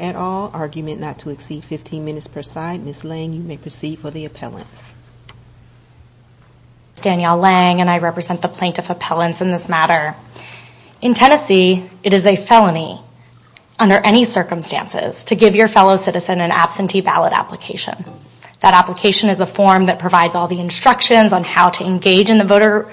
at all. Argument not to exceed 15 minutes per side. Ms. Lange, you may proceed for the appellants. This is Danielle Lange and I represent the plaintiff appellants in this matter. In Tennessee, it is a felony under any circumstances to give your fellow citizen an absentee ballot application. That application is a form that provides all the instructions on how to engage in the voter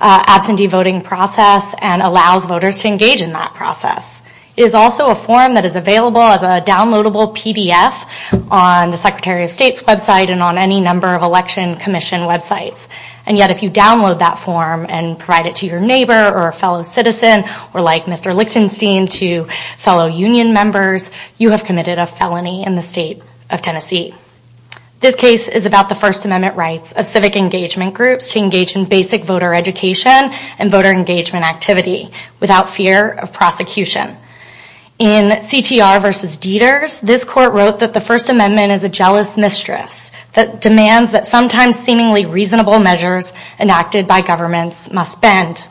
absentee voting process and allows voters to engage in that process. It is also a form that is available as a downloadable PDF on the Secretary of State's website and on any number of election commission websites. And yet if you download that form and provide it to your neighbor or a fellow citizen or like Mr. Lichtenstein to fellow union members, you have committed a felony in the state of Tennessee. This case is about the First Amendment rights of civic engagement groups to engage in basic voter education and voter engagement activity without fear of prosecution. In CTR v. Dieters, this court wrote that the First Amendment is a jealous mistress that demands that sometimes seemingly reasonable measures enacted by governments must bend.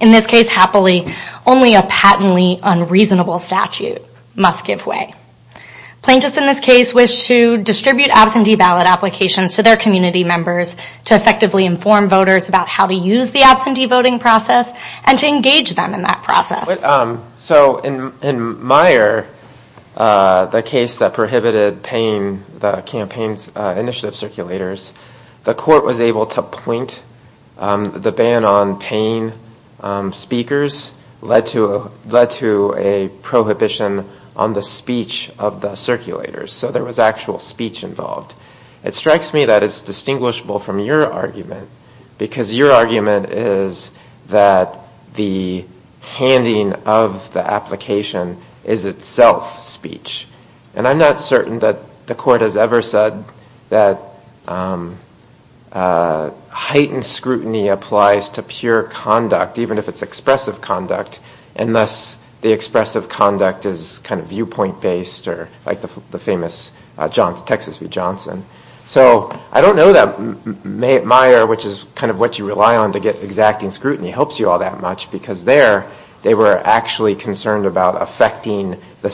In this case, happily, only a patently unreasonable statute must give way. Plaintiffs in this case wish to distribute absentee ballot applications to their community members to effectively inform voters about how to use the absentee voting process and to engage them in that process. So in Meyer, the case that prohibited paying the campaign's initiative circulators, the prohibition on the speech of the circulators. So there was actual speech involved. It strikes me that it's distinguishable from your argument because your argument is that the handing of the application is itself speech. And I'm not certain that the court has ever said that heightened scrutiny applies to pure conduct, even if it's expressive conduct, unless the expressive conduct is kind of viewpoint-based or like the famous Texas v. Johnson. So I don't know that Meyer, which is kind of what you rely on to get exacting scrutiny, helps you all that much because there, they were actually concerned about affecting the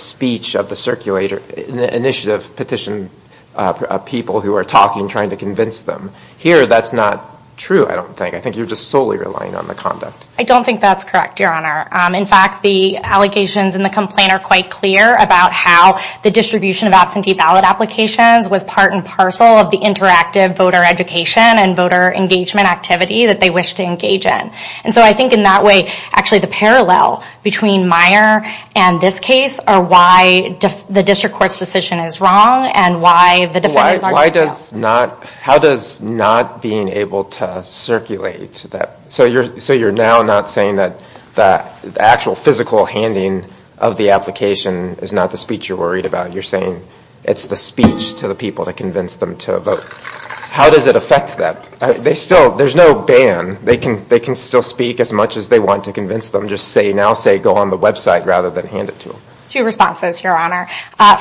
true, I don't think. I think you're just solely relying on the conduct. I don't think that's correct, Your Honor. In fact, the allegations in the complaint are quite clear about how the distribution of absentee ballot applications was part and parcel of the interactive voter education and voter engagement activity that they wish to engage in. And so I think in that way, actually, the parallel between Meyer and this case are why the district court's decision is wrong and why the defendants aren't. Why does not, how does not being able to circulate that, so you're, so you're now not saying that the actual physical handing of the application is not the speech you're worried about. You're saying it's the speech to the people to convince them to vote. How does it affect them? They still, there's no ban. They can, they can still speak as much as they want to convince them. Just say, now say, go on the website rather than hand it to them. Two responses, Your Honor.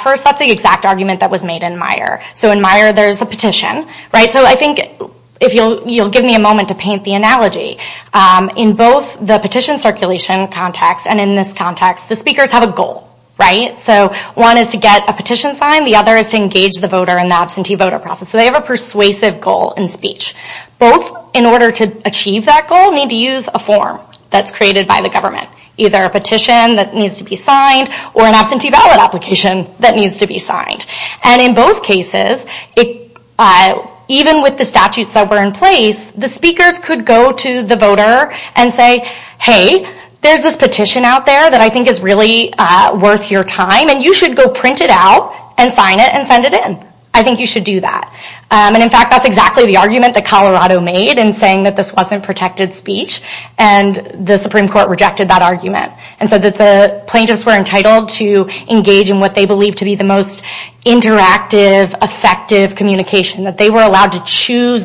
First, that's the exact argument that was made in Meyer. So in Meyer, there's a petition, right? So I think if you'll, you'll give me a moment to paint the analogy. In both the petition circulation context and in this context, the speakers have a goal, right? So one is to get a petition signed. The other is to engage the voter in the absentee voter process. So they have a persuasive goal in speech. Both, in order to achieve that goal, need to use a form that's created by the government. Either a petition that needs to be signed or an absentee ballot application that needs to be signed. And in both cases, it, even with the statutes that were in place, the speakers could go to the voter and say, hey, there's this petition out there that I think is really worth your time and you should go print it out and sign it and send it in. I think you should do that. And in fact, that's exactly the argument that Colorado made in saying that this wasn't protected speech and the Supreme Court rejected that argument. And so that the plaintiffs were allowed to choose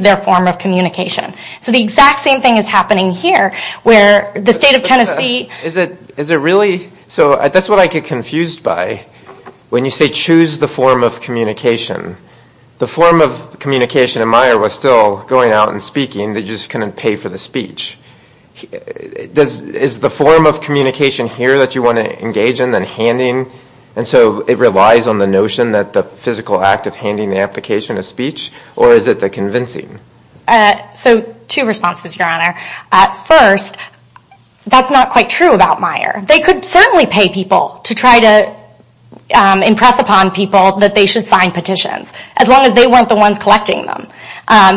their form of communication. So the exact same thing is happening here, where the state of Tennessee... Is it really? So that's what I get confused by. When you say choose the form of communication, the form of communication in Meyer was still going out and speaking, they just couldn't pay for the speech. Is the form of communication here that you want to engage in and handing? And so it relies on the notion that the physical act of handing the application of speech or is it the convincing? So two responses, Your Honor. First, that's not quite true about Meyer. They could certainly pay people to try to impress upon people that they should sign petitions, as long as they weren't the ones collecting them.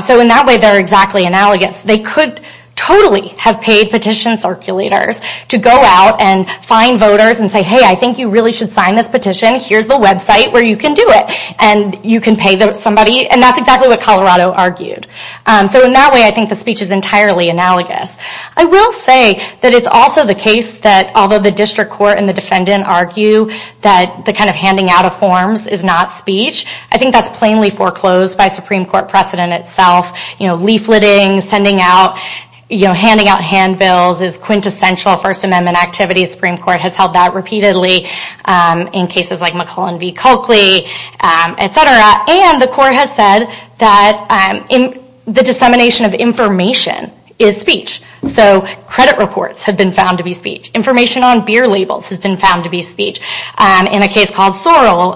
So in that way, they're exactly analogous. They could totally have paid petition circulators to go out and find voters and say, hey, I think you really should sign this petition. Here's the website where you can do it. And you can pay somebody. And that's exactly what Colorado argued. So in that way, I think the speech is entirely analogous. I will say that it's also the case that although the district court and the defendant argue that the kind of handing out of forms is not speech, I think that's plainly foreclosed by Supreme Court precedent itself. Leafleting, sending out, handing out handbills is quintessential First Amendment activity. Supreme Court has held that repeatedly in cases like McClellan v. Culkley, etc. And the court has said that the dissemination of information is speech. So credit reports have been found to be speech. Information on beer labels has been found to be speech. In a case called Sorrel,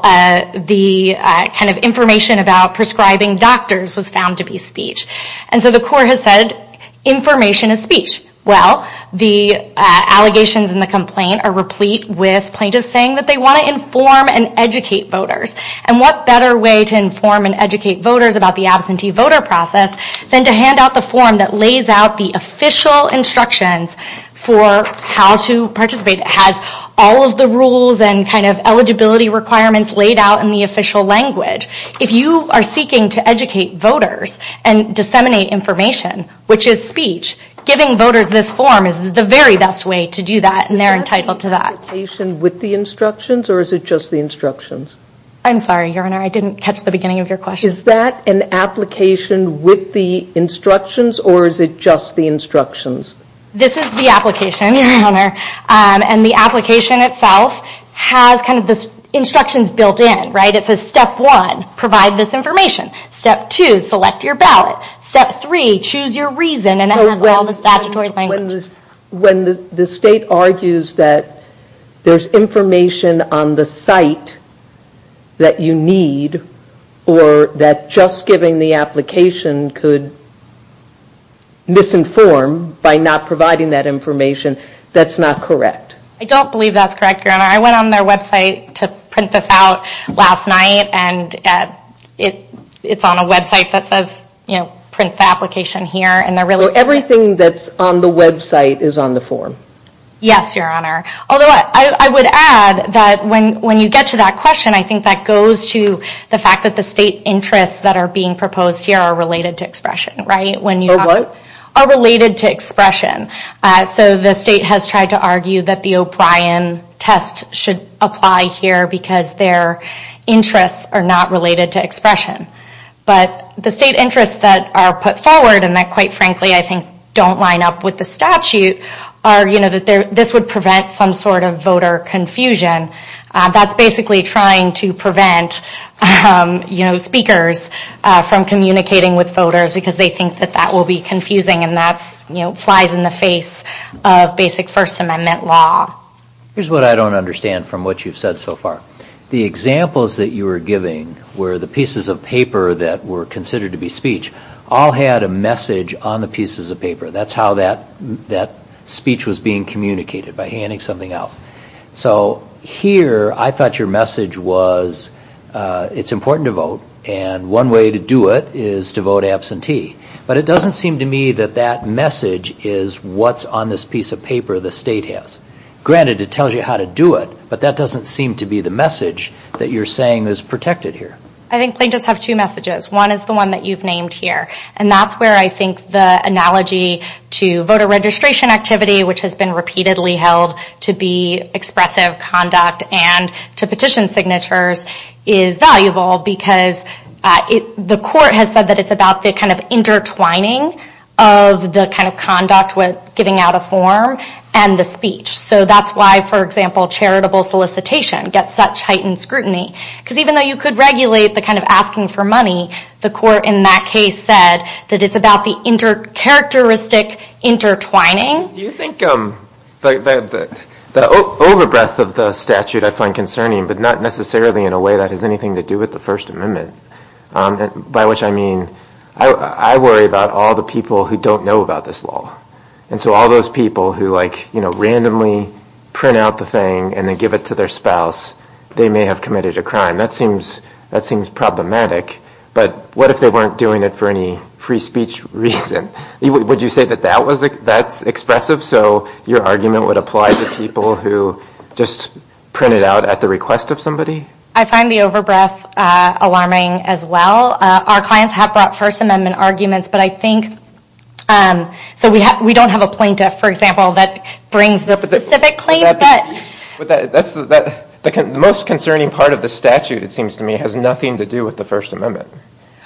the kind of information about prescribing doctors was found to be speech. And so the court has said information is speech. Well, the allegations and the complaint are replete with plaintiffs saying that they want to inform and educate voters. And what better way to inform and educate voters about the absentee voter process than to hand out the form that lays out the official instructions for how to participate. It has all of the rules and kind of eligibility requirements laid out in the official language. If you are seeking to educate voters and disseminate information, which is speech, giving voters this form is the very best way to do that and they're entitled to that. Is that an application with the instructions or is it just the instructions? I'm sorry, Your Honor, I didn't catch the beginning of your question. Is that an application with the instructions or is it just the instructions? This is the application, Your Honor, and the application itself has kind of the instructions built in, right? It says step one, provide this information. Step two, select your ballot. Step three, choose your reason and it has all the statutory language. When the state argues that there's information on the site that you need or that just giving the application could misinform by not providing that information, that's not correct. I don't believe that's correct, Your Honor. I went on their website to print this out last night and it's on a website that says print the application here. Everything that's on the website is on the form? Yes, Your Honor. Although I would add that when you get to that question, I think that goes to the fact that the state interests that are being proposed here are related to expression, right? Are what? Are related to expression. So the state has tried to argue that the O'Brien test should apply here because their interests are not related to expression. But the state interests that are put forward and that quite frankly I think don't line up with the statute are, you know, that this would prevent some sort of voter confusion. That's basically trying to prevent, you know, speakers from communicating with voters because they think that that will be confusing and that's, you know, flies in the face of basic First Amendment law. Here's what I don't understand from what you've said so far. The examples that you were giving were the pieces of paper that were considered to be speech all had a message on the pieces of paper. That's how that speech was being communicated, by handing something out. So here I thought your message was it's important to vote and one way to do it is to vote absentee. But it doesn't seem to me that that message is what's on this piece of paper the state has. Granted it tells you how to do it, but that doesn't seem to be the message that you're saying is protected here. I think plaintiffs have two messages. One is the one that you've named here and that's where I think the analogy to voter registration activity which has been repeatedly held to be expressive conduct and to petition signatures is valuable because the court has said that it's about the kind of intertwining of the kind of conduct with getting out a form and the speech. So that's why, for example, charitable solicitation gets such heightened scrutiny. Because even though you could regulate the kind of asking for money, the court in that case said that it's about the inter-characteristic intertwining. Do you think the over-breath of the statute I find concerning but not necessarily in a much, I mean, I worry about all the people who don't know about this law. And so all those people who like, you know, randomly print out the thing and then give it to their spouse, they may have committed a crime. That seems problematic. But what if they weren't doing it for any free speech reason? Would you say that that's expressive so your argument would apply to people who just print it out at the request of somebody? I find the over-breath alarming as well. Our clients have brought First Amendment arguments, but I think, so we don't have a plaintiff, for example, that brings the specific claim. The most concerning part of the statute, it seems to me, has nothing to do with the First Amendment.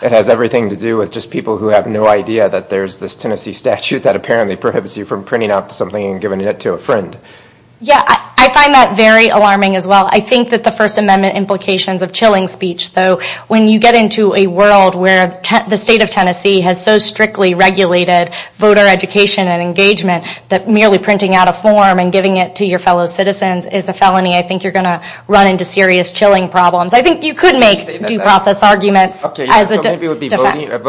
It has everything to do with just people who have no idea that there's this Tennessee statute that apparently prohibits you from printing out something and giving it to a friend. Yeah, I find that very alarming as well. I think that the First Amendment implications of chilling speech, though, when you get into a world where the state of Tennessee has so strictly regulated voter education and engagement that merely printing out a form and giving it to your fellow citizens is a felony, I think you're going to run into serious chilling problems. I think you could make due process arguments as a defense. Okay, so maybe it would be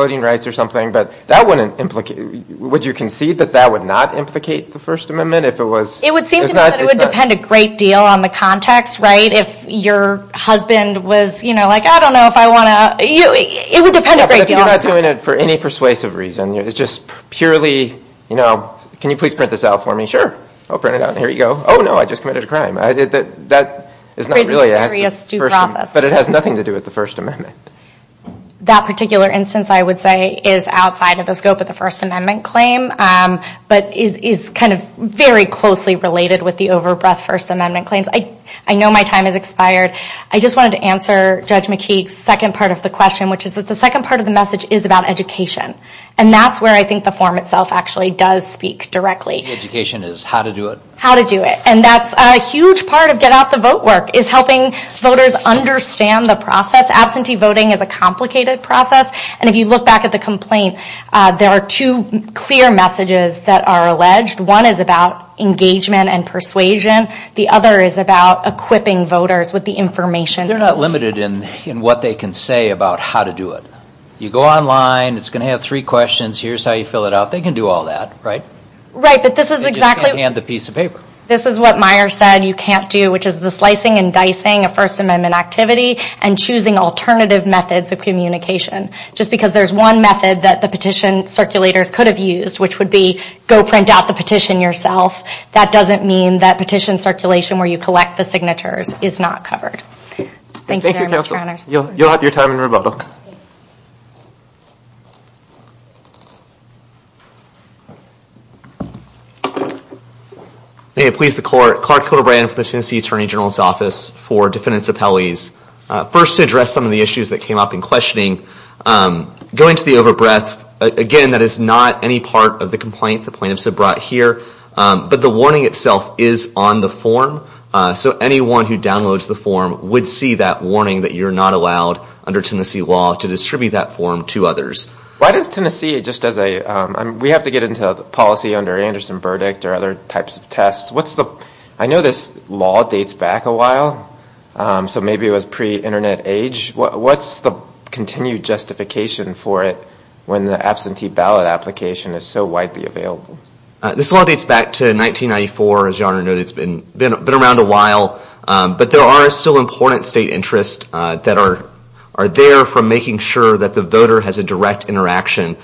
voting rights or something, but that wouldn't implicate, would you concede that that would not implicate the First Amendment if it was? It would seem to me that it would depend a great deal on the context, right? If your husband was like, I don't know if I want to, it would depend a great deal on the context. Yeah, but if you're not doing it for any persuasive reason, it's just purely, can you please print this out for me? Sure, I'll print it out and here you go. Oh no, I just committed a crime. That is not really asked of First Amendment, but it has nothing to do with the First Amendment. That particular instance, I would say, is outside of the scope of the First Amendment claim, but is kind of very closely related with the over-breath First Amendment claims. I know my time has expired. I just wanted to answer Judge McKeague's second part of the question, which is that the second part of the message is about education. And that's where I think the form itself actually does speak directly. Education is how to do it. How to do it. And that's a huge part of Get Out the Vote work, is helping voters understand the process. Absentee voting is a complicated process. And if you look back at the complaint, there are two clear messages that are alleged. One is about engagement and persuasion. The other is about equipping voters with the information. They're not limited in what they can say about how to do it. You go online, it's going to have three questions. Here's how you fill it out. They can do all that, right? Right, but this is exactly... You just can't hand the piece of paper. This is what Meyer said you can't do, which is the slicing and dicing of First Amendment activity and choosing alternative methods of communication. Just because there's one method that the petition circulators could have used, which would be go print out the petition yourself, that doesn't mean that petition circulation where you collect the signatures is not covered. Thank you very much, Your Honors. You'll have your time in rebuttal. May it please the Court, Clark Kilbrand of the Tennessee Attorney General's Office for defendants' appellees, first to address some of the issues that came up in questioning. Going to the overbreath, again, that is not any part of the complaint the plaintiffs have brought here, but the warning itself is on the form. So anyone who downloads the form would see that warning that you're not allowed under Tennessee law to distribute that form to others. Why does Tennessee, just as a... We have to get into policy under Anderson verdict or other types of tests. What's the... I know this law dates back a while, so maybe it was pre-internet age. What's the continued justification for it when the absentee ballot application is so widely available? This law dates back to 1994, as Your Honor noted. It's been around a while, but there are still important state interests that are there for making sure that the voter has a direct interaction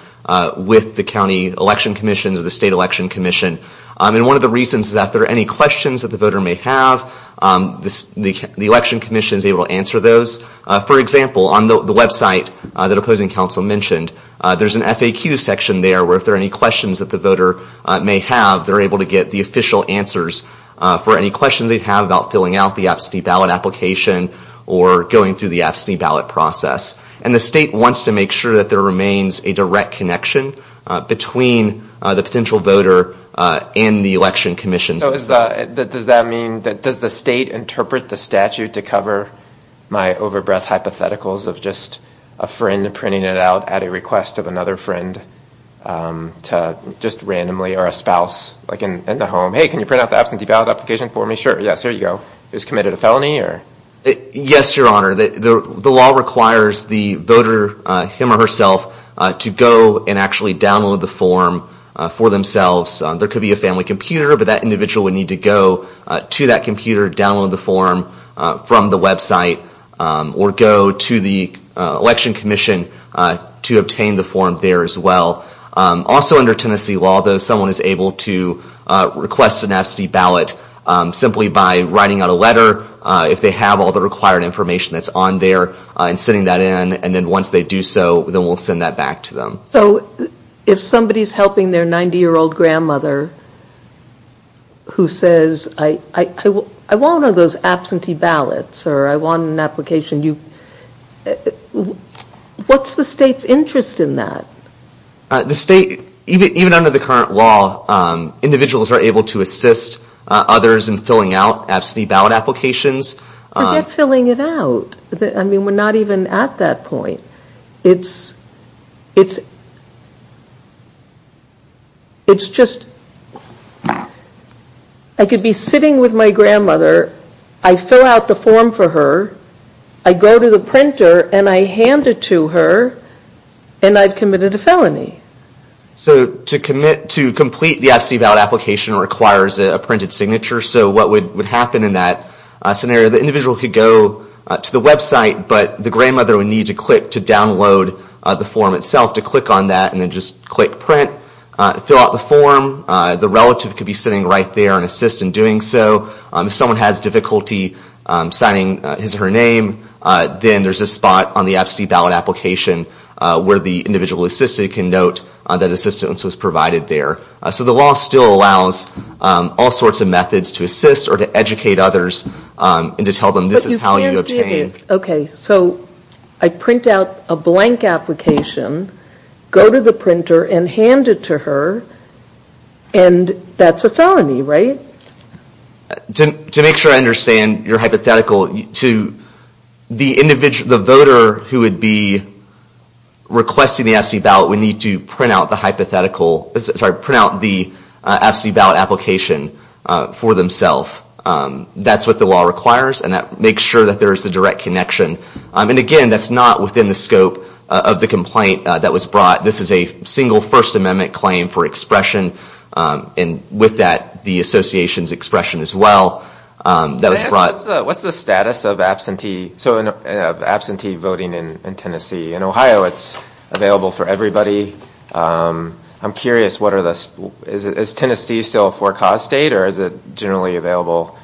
with the county election commission or the state election commission. One of the reasons is that if there are any questions that the voter may have, the election commission is able to answer those. For example, on the website that opposing counsel mentioned, there's an FAQ section there where if there are any questions that the voter may have, they're able to get the official answers for any questions they have about filling out the absentee ballot application or going through the absentee ballot process. The state wants to make sure that there remains a direct connection between the potential voter and the election commission. Does that mean that... Does the state interpret the statute to cover my over-breath hypotheticals of just a friend printing it out at a request of another friend just randomly or a spouse like in the home? Hey, can you print out the absentee ballot application for me? Sure. Yes, here you go. Who's committed a felony? Yes, Your Honor. The law requires the voter, him or herself, to go and actually download the form for themselves. There could be a family computer, but that individual would need to go to that computer, download the form from the website, or go to the election commission to obtain the form there as well. Also under Tennessee law, though, someone is able to request an absentee ballot simply by writing out a letter if they have all the required information that's on there and sending that in, and then once they do so, then we'll send that back to them. If somebody's helping their 90-year-old grandmother who says, I want one of those absentee ballots or I want an application, what's the state's interest in that? Even under the current law, individuals are able to assist others in filling out absentee ballots. At that point, it's just, I could be sitting with my grandmother, I fill out the form for her, I go to the printer and I hand it to her, and I've committed a felony. So to complete the absentee ballot application requires a printed signature, so what would need to click to download the form itself, to click on that and then just click print, fill out the form, the relative could be sitting right there and assist in doing so. If someone has difficulty signing his or her name, then there's a spot on the absentee ballot application where the individual assistant can note that assistance was provided there. So the law still allows all sorts of methods to assist or to educate others and to tell them this is how you obtain. So I print out a blank application, go to the printer and hand it to her, and that's a felony, right? To make sure I understand your hypothetical, the voter who would be requesting the absentee ballot would need to print out the absentee ballot application for themselves. That's what the law requires, and that makes sure that there's a direct connection, and again, that's not within the scope of the complaint that was brought. This is a single First Amendment claim for expression, and with that, the association's expression as well that was brought. What's the status of absentee voting in Tennessee? In Ohio, it's available for everybody. I'm curious, is Tennessee still a four cause state, or is it generally available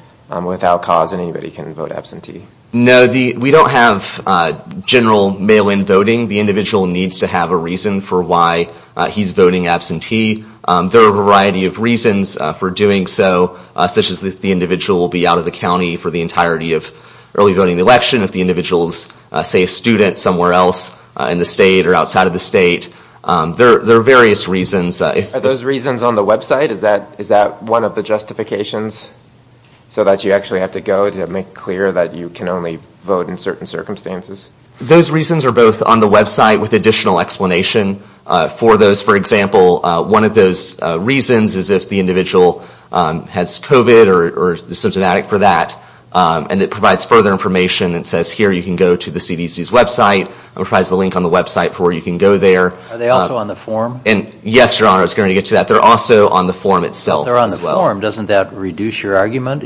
without cause and anybody can vote absentee? No, we don't have general mail-in voting. The individual needs to have a reason for why he's voting absentee. There are a variety of reasons for doing so, such as if the individual will be out of the county for the entirety of early voting election, if the individual is, say, a student somewhere else in the state or outside of the state. There are various reasons. Are those reasons on the website? Is that one of the justifications so that you actually have to go to make clear that you can only vote in certain circumstances? Those reasons are both on the website with additional explanation for those. For example, one of those reasons is if the individual has COVID or is symptomatic for that, and it provides further information. It says here you can go to the CDC's website. It provides a link on the website for where you can go there. Are they also on the form? Yes, Your Honor, I was going to get to that. They're also on the form itself as well. If they're on the form, doesn't that reduce your argument?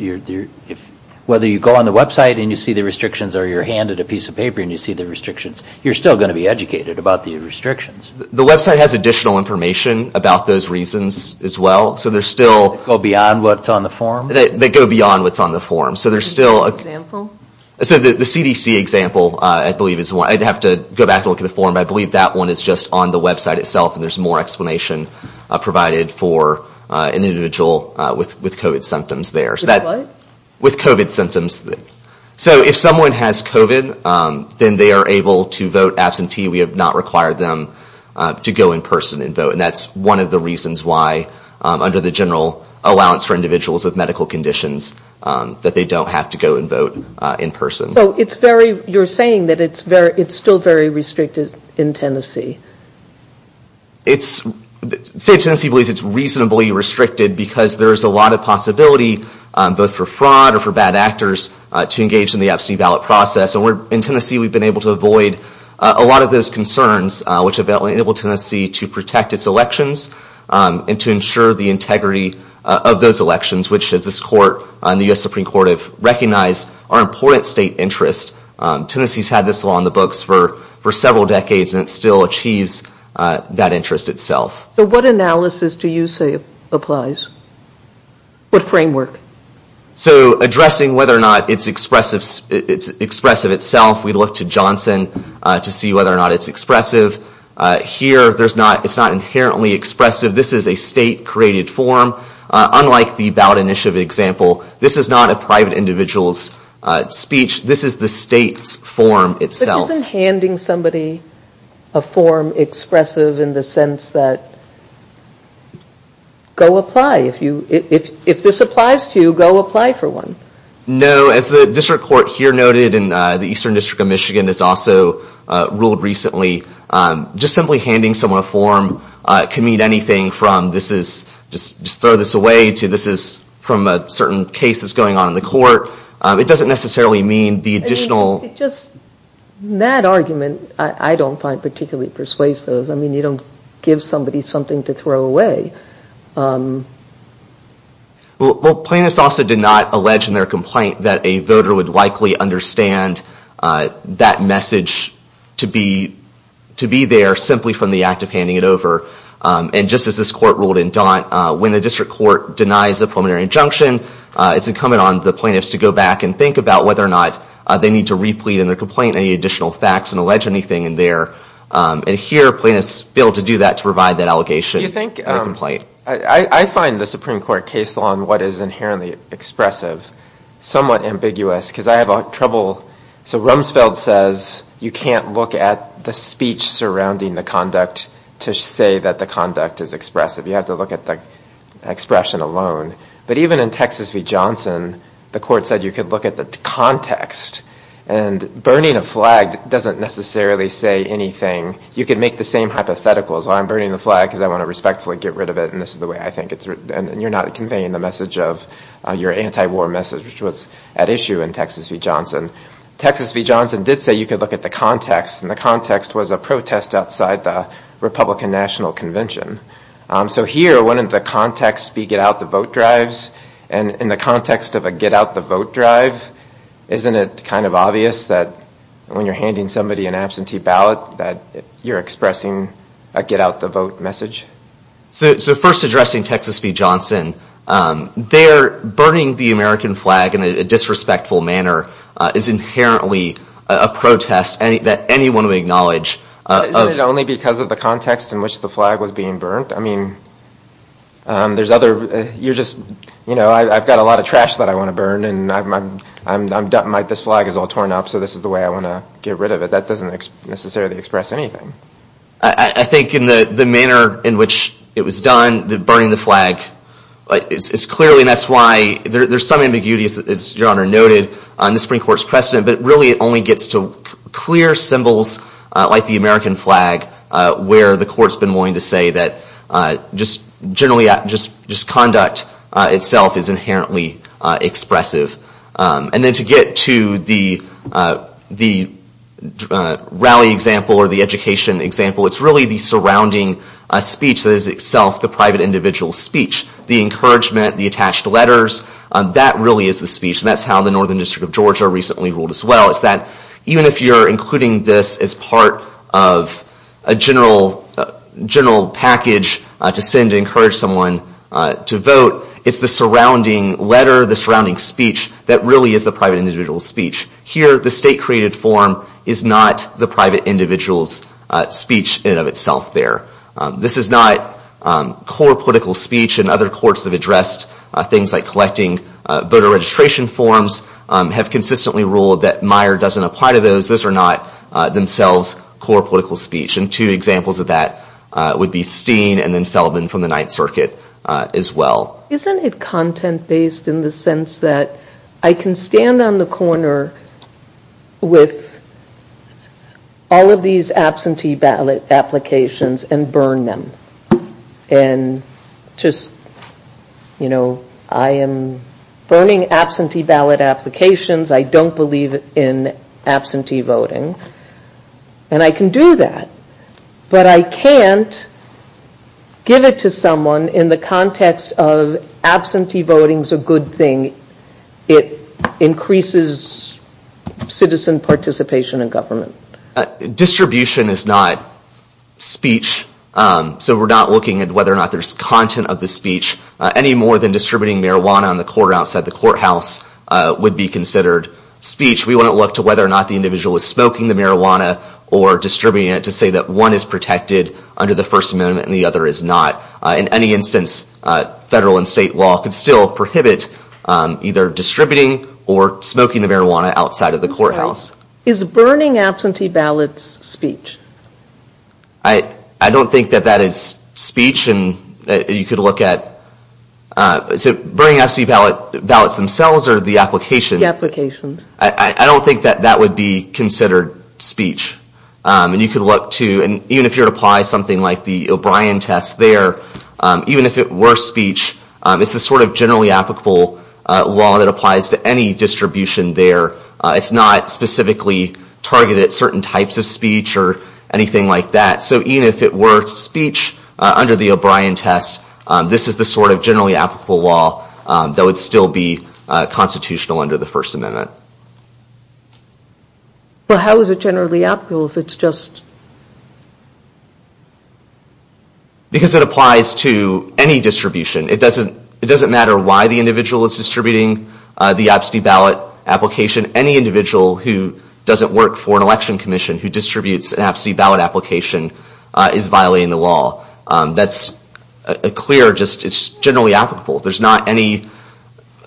Whether you go on the website and you see the restrictions or you're handed a piece of paper and you see the restrictions, you're still going to be educated about the restrictions. The website has additional information about those reasons as well, so there's still... They go beyond what's on the form? They go beyond what's on the form, so there's still... Can you give an example? The CDC example, I'd have to go back and look at the form, but I believe that one is just on the website itself and there's more explanation provided for an individual with COVID symptoms there. With what? With COVID symptoms. So if someone has COVID, then they are able to vote absentee. We have not required them to go in person and vote, and that's one of the reasons why under the general allowance for individuals with medical conditions that they don't have to go and vote in person. So it's very... You're saying that it's still very restricted in Tennessee? State of Tennessee believes it's reasonably restricted because there's a lot of possibility both for fraud or for bad actors to engage in the absentee ballot process. In Tennessee, we've been able to avoid a lot of those concerns, which have enabled Tennessee to protect its elections and to ensure the integrity of those elections, which as this court and the U.S. state interest. Tennessee's had this law on the books for several decades and it still achieves that interest itself. So what analysis do you say applies? What framework? So addressing whether or not it's expressive itself, we look to Johnson to see whether or not it's expressive. Here, it's not inherently expressive. This is a state-created form. Unlike the ballot initiative example, this is not a private individual's speech. This is the state's form itself. But isn't handing somebody a form expressive in the sense that, go apply. If this applies to you, go apply for one. No, as the district court here noted and the Eastern District of Michigan has also ruled recently, just simply handing someone a form can mean anything from, just throw this away to this is from a certain case that's going on in the court. It doesn't necessarily mean the additional... I mean, just that argument, I don't find particularly persuasive. I mean, you don't give somebody something to throw away. Well, plaintiffs also did not allege in their complaint that a voter would likely understand that message to be there simply from the act of handing it over. And just as this court ruled in Daunt, when the district court denies a preliminary injunction, it's incumbent on the plaintiffs to go back and think about whether or not they need to replete in their complaint any additional facts and allege anything in there. And here, plaintiffs failed to do that to provide that allegation in their complaint. I find the Supreme Court case law on what is inherently expressive somewhat ambiguous because I have trouble... So Rumsfeld says you can't look at the speech surrounding the conduct to say that the conduct is expressive. You have to look at the expression alone. But even in Texas v. Johnson, the court said you could look at the context and burning a flag doesn't necessarily say anything. You can make the same hypothetical as, well, I'm burning the flag because I want to respectfully get rid of it and this is the way I think it's written, and you're not conveying the anti-war message, which was at issue in Texas v. Johnson. Texas v. Johnson did say you could look at the context, and the context was a protest outside the Republican National Convention. So here, wouldn't the context be get out the vote drives? And in the context of a get out the vote drive, isn't it kind of obvious that when you're handing somebody an absentee ballot that you're expressing a get out the vote message? So first addressing Texas v. Johnson, there, burning the American flag in a disrespectful manner is inherently a protest that anyone would acknowledge. Isn't it only because of the context in which the flag was being burnt? I mean, there's other, you're just, you know, I've got a lot of trash that I want to burn and this flag is all torn up so this is the way I want to get rid of it. That doesn't necessarily express anything. I think in the manner in which it was done, the burning the flag, it's clearly, and that's why there's some ambiguity, as Your Honor noted, on the Supreme Court's precedent, but really it only gets to clear symbols like the American flag where the court's been willing to say that just generally, just conduct itself is inherently expressive. And then to get to the rally example or the education example, it's really the surrounding speech that is itself the private individual's speech. The encouragement, the attached letters, that really is the speech and that's how the Northern District of Georgia recently ruled as well, is that even if you're including this as part of a general package to send to encourage someone to vote, it's the surrounding letter, the surrounding speech that really is the private individual's speech. Here the state-created form is not the private individual's speech in and of itself there. This is not core political speech and other courts have addressed things like collecting voter registration forms, have consistently ruled that Meyer doesn't apply to those. Those are not themselves core political speech and two examples of that would be Steen and then Feldman from the Ninth Circuit as well. Isn't it content-based in the sense that I can stand on the corner with all of these absentee ballot applications and burn them and just, you know, I am burning absentee ballot applications. I don't believe in absentee voting and I can do that but I can't give it to someone in the context of absentee voting is a good thing. It increases citizen participation in government. Distribution is not speech, so we're not looking at whether or not there's content of the speech any more than distributing marijuana on the court or outside the courthouse would be considered speech. We wouldn't look to whether or not the individual is smoking the marijuana or distributing it to say that one is protected under the First Amendment and the other is not. In any instance, federal and state law could still prohibit either distributing or smoking the marijuana outside of the courthouse. Is burning absentee ballots speech? I don't think that that is speech and you could look at, so burning absentee ballots themselves or the application, I don't think that that would be considered speech and you Even if it were speech, it's the sort of generally applicable law that applies to any distribution there. It's not specifically targeted certain types of speech or anything like that. So even if it were speech under the O'Brien test, this is the sort of generally applicable law that would still be constitutional under the First Amendment. But how is it generally applicable if it's just... Because it applies to any distribution. It doesn't matter why the individual is distributing the absentee ballot application. Any individual who doesn't work for an election commission who distributes an absentee ballot application is violating the law. That's a clear, just it's generally applicable. There's not any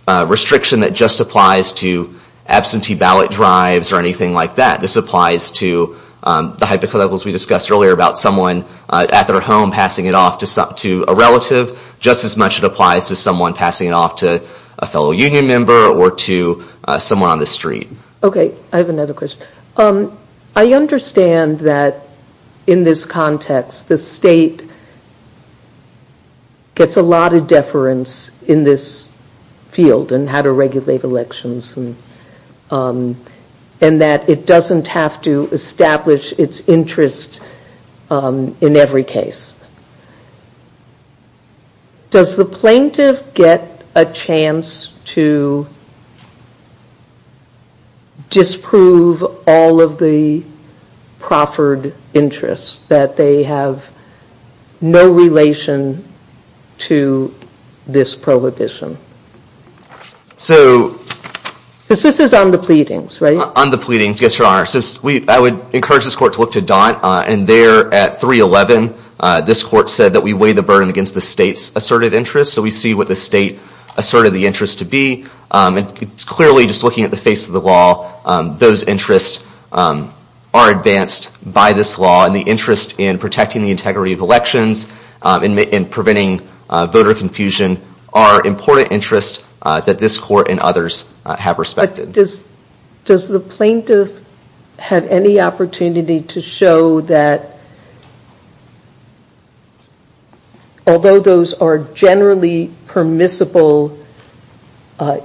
restriction that just applies to absentee ballot drives or anything like that. This applies to the hypotheticals we discussed earlier about someone at their home passing it off to a relative just as much as it applies to someone passing it off to a fellow union member or to someone on the street. Okay, I have another question. I understand that in this context, the state gets a lot of deference in this field and how to regulate elections and that it doesn't have to establish its interest in every case. Does the plaintiff get a chance to disprove all of the proffered interests that they have no relation to this prohibition? So... Because this is on the pleadings, right? On the pleadings, yes, your honor. I would encourage this court to look to Daunt and there at 311, this court said that we weigh the burden against the state's asserted interest. So we see what the state asserted the interest to be and clearly just looking at the face of the law, those interests are advanced by this law and the interest in protecting the integrity of elections and preventing voter confusion are important interests that this court and others have respected. Does the plaintiff have any opportunity to show that although those are generally permissible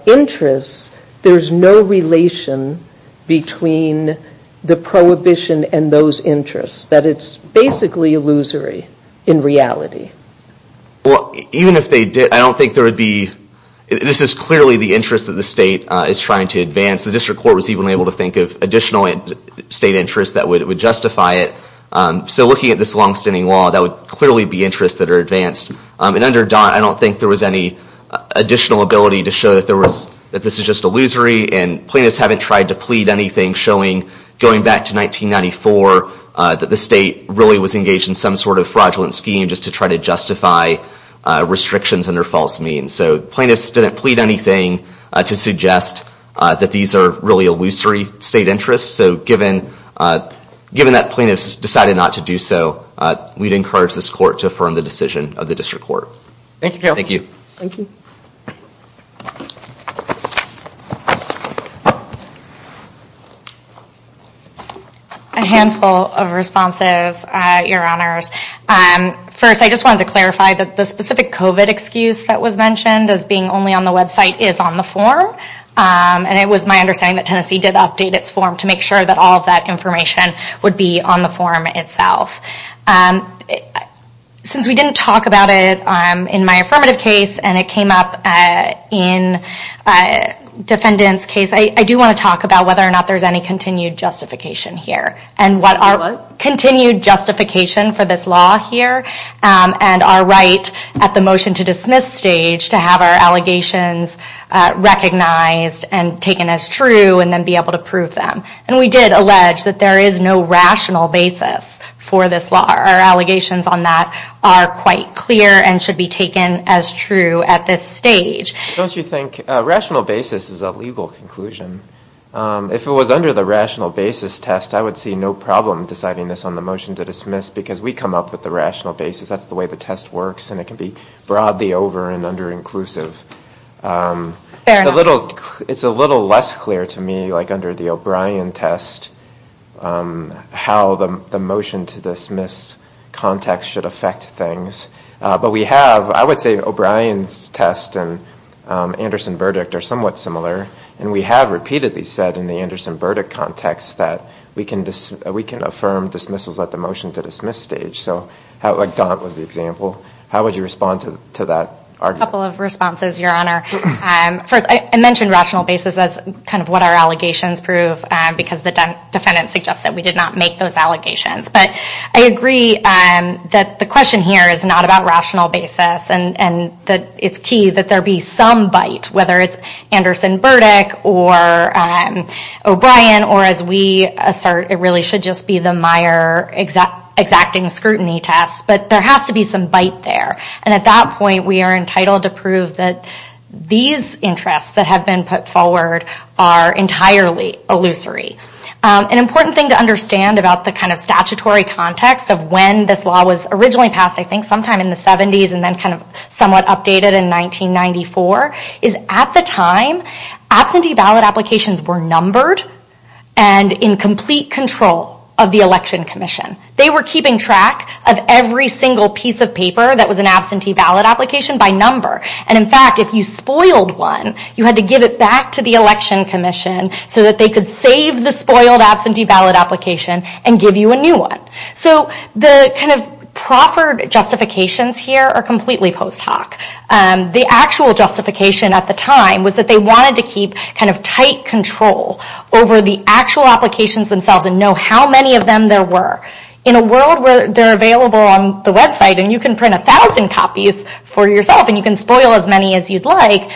interests, there's no relation between the prohibition and those interests? That it's basically illusory in reality? Even if they did, I don't think there would be... This is clearly the interest that the state is trying to advance. The district court was even able to think of additional state interests that would justify it. So looking at this longstanding law, there would clearly be interests that are advanced. Under Daunt, I don't think there was any additional ability to show that this is just illusory and plaintiffs haven't tried to plead anything showing, going back to 1994, that the state really was engaged in some sort of fraudulent scheme just to try to justify restrictions under false means. So plaintiffs didn't plead anything to suggest that these are really illusory state interests. So given that plaintiffs decided not to do so, we'd encourage this court to affirm the decision of the district court. Thank you. Thank you. Thank you. Thank you. Thank you. Thank you. Thank you. Thank you. Thank you. A handful of responses, your honors. First, I just wanted to clarify that the specific COVID excuse that was mentioned as being only on the website is on the form. And it was my understanding that Tennessee did update its form to make sure that all of that information would be on the form itself. Since we didn't talk about it in my affirmative case and it came up in defendant's case, I do want to talk about whether or not there's any continued justification here and what our continued justification for this law here and our right at the motion to dismiss stage to have our allegations recognized and taken as true and then be able to prove them. And we did allege that there is no rational basis for this law. Our allegations on that are quite clear and should be taken as true at this stage. Don't you think rational basis is a legal conclusion? If it was under the rational basis test, I would see no problem deciding this on the motion to dismiss because we come up with the rational basis. That's the way the test works and it can be broadly over and under inclusive. Fair enough. It's a little less clear to me like under the O'Brien test how the motion to dismiss context should affect things. But we have, I would say O'Brien's test and Anderson verdict are somewhat similar. And we have repeatedly said in the Anderson verdict context that we can affirm dismissals at the motion to dismiss stage. So like Daunt was the example. How would you respond to that argument? I have a couple of responses, Your Honor. First, I mentioned rational basis as kind of what our allegations prove because the defendant suggested we did not make those allegations. But I agree that the question here is not about rational basis and that it's key that there be some bite, whether it's Anderson verdict or O'Brien or as we assert it really should just be the Meyer exacting scrutiny test. But there has to be some bite there. And at that point we are entitled to prove that these interests that have been put forward are entirely illusory. An important thing to understand about the kind of statutory context of when this law was originally passed I think sometime in the 70s and then kind of somewhat updated in 1994 is at the time absentee ballot applications were numbered and in complete control of the election commission. They were keeping track of every single piece of paper that was an absentee ballot application by number. And in fact if you spoiled one you had to give it back to the election commission so that they could save the spoiled absentee ballot application and give you a new one. So the kind of proffered justifications here are completely post hoc. The actual justification at the time was that they wanted to keep kind of tight control over the actual applications themselves and know how many of them there were. In a world where they're available on the website and you can print a thousand copies for yourself and you can spoil as many as you'd like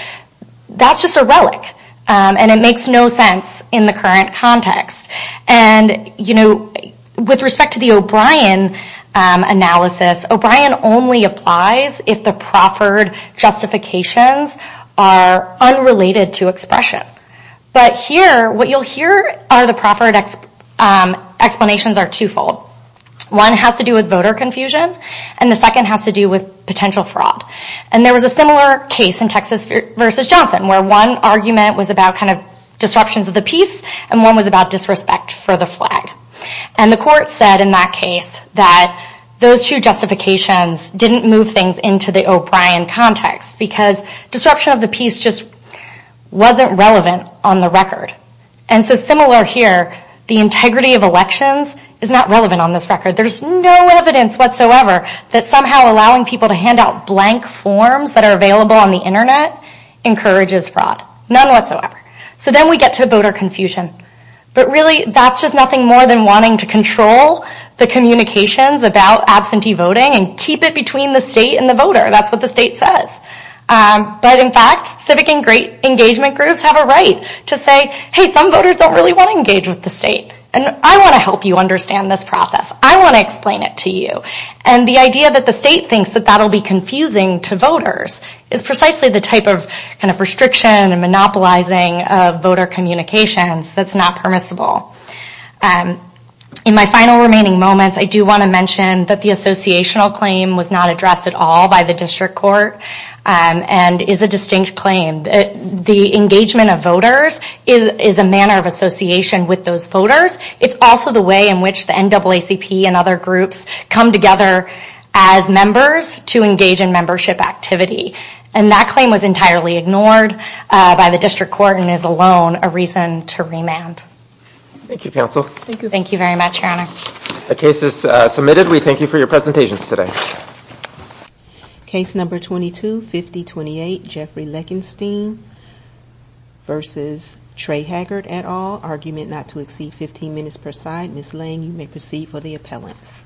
that's just a relic and it makes no sense in the current context. And you know with respect to the O'Brien analysis O'Brien only applies if the proffered justifications are unrelated to expression. But here what you'll hear are the proffered explanations are twofold. One has to do with voter confusion and the second has to do with potential fraud. And there was a similar case in Texas v. Johnson where one argument was about kind of disruptions of the peace and one was about disrespect for the flag. And the court said in that case that those two justifications didn't move things into the O'Brien context because disruption of the peace just wasn't relevant on the record. And so similar here the integrity of elections is not relevant on this record. There's no evidence whatsoever that somehow allowing people to hand out blank forms that are available on the internet encourages fraud. None whatsoever. So then we get to voter confusion. But really that's just nothing more than wanting to control the communications about absentee voting and keep it between the state and the voter. That's what the state says. But in fact civic engagement groups have a right to say hey some voters don't really want to engage with the state and I want to help you understand this process. I want to explain it to you. And the idea that the state thinks that that will be confusing to voters is precisely the type of restriction and monopolizing of voter communications that's not permissible. In my final remaining moments I do want to mention that the associational claim was not addressed at all by the district court and is a distinct claim. The engagement of voters is a manner of association with those voters. It's also the way in which the NAACP and other groups come together as members to engage in membership activity. And that claim was entirely ignored by the district court and is alone a reason to remand. Thank you counsel. Thank you very much your honor. The case is submitted. We thank you for your presentation today. Case number 22-5028 Jeffrey Leckenstein versus Trey Haggard et al. Argument not to exceed 15 minutes per side. Ms. Lang you may proceed for the appellants.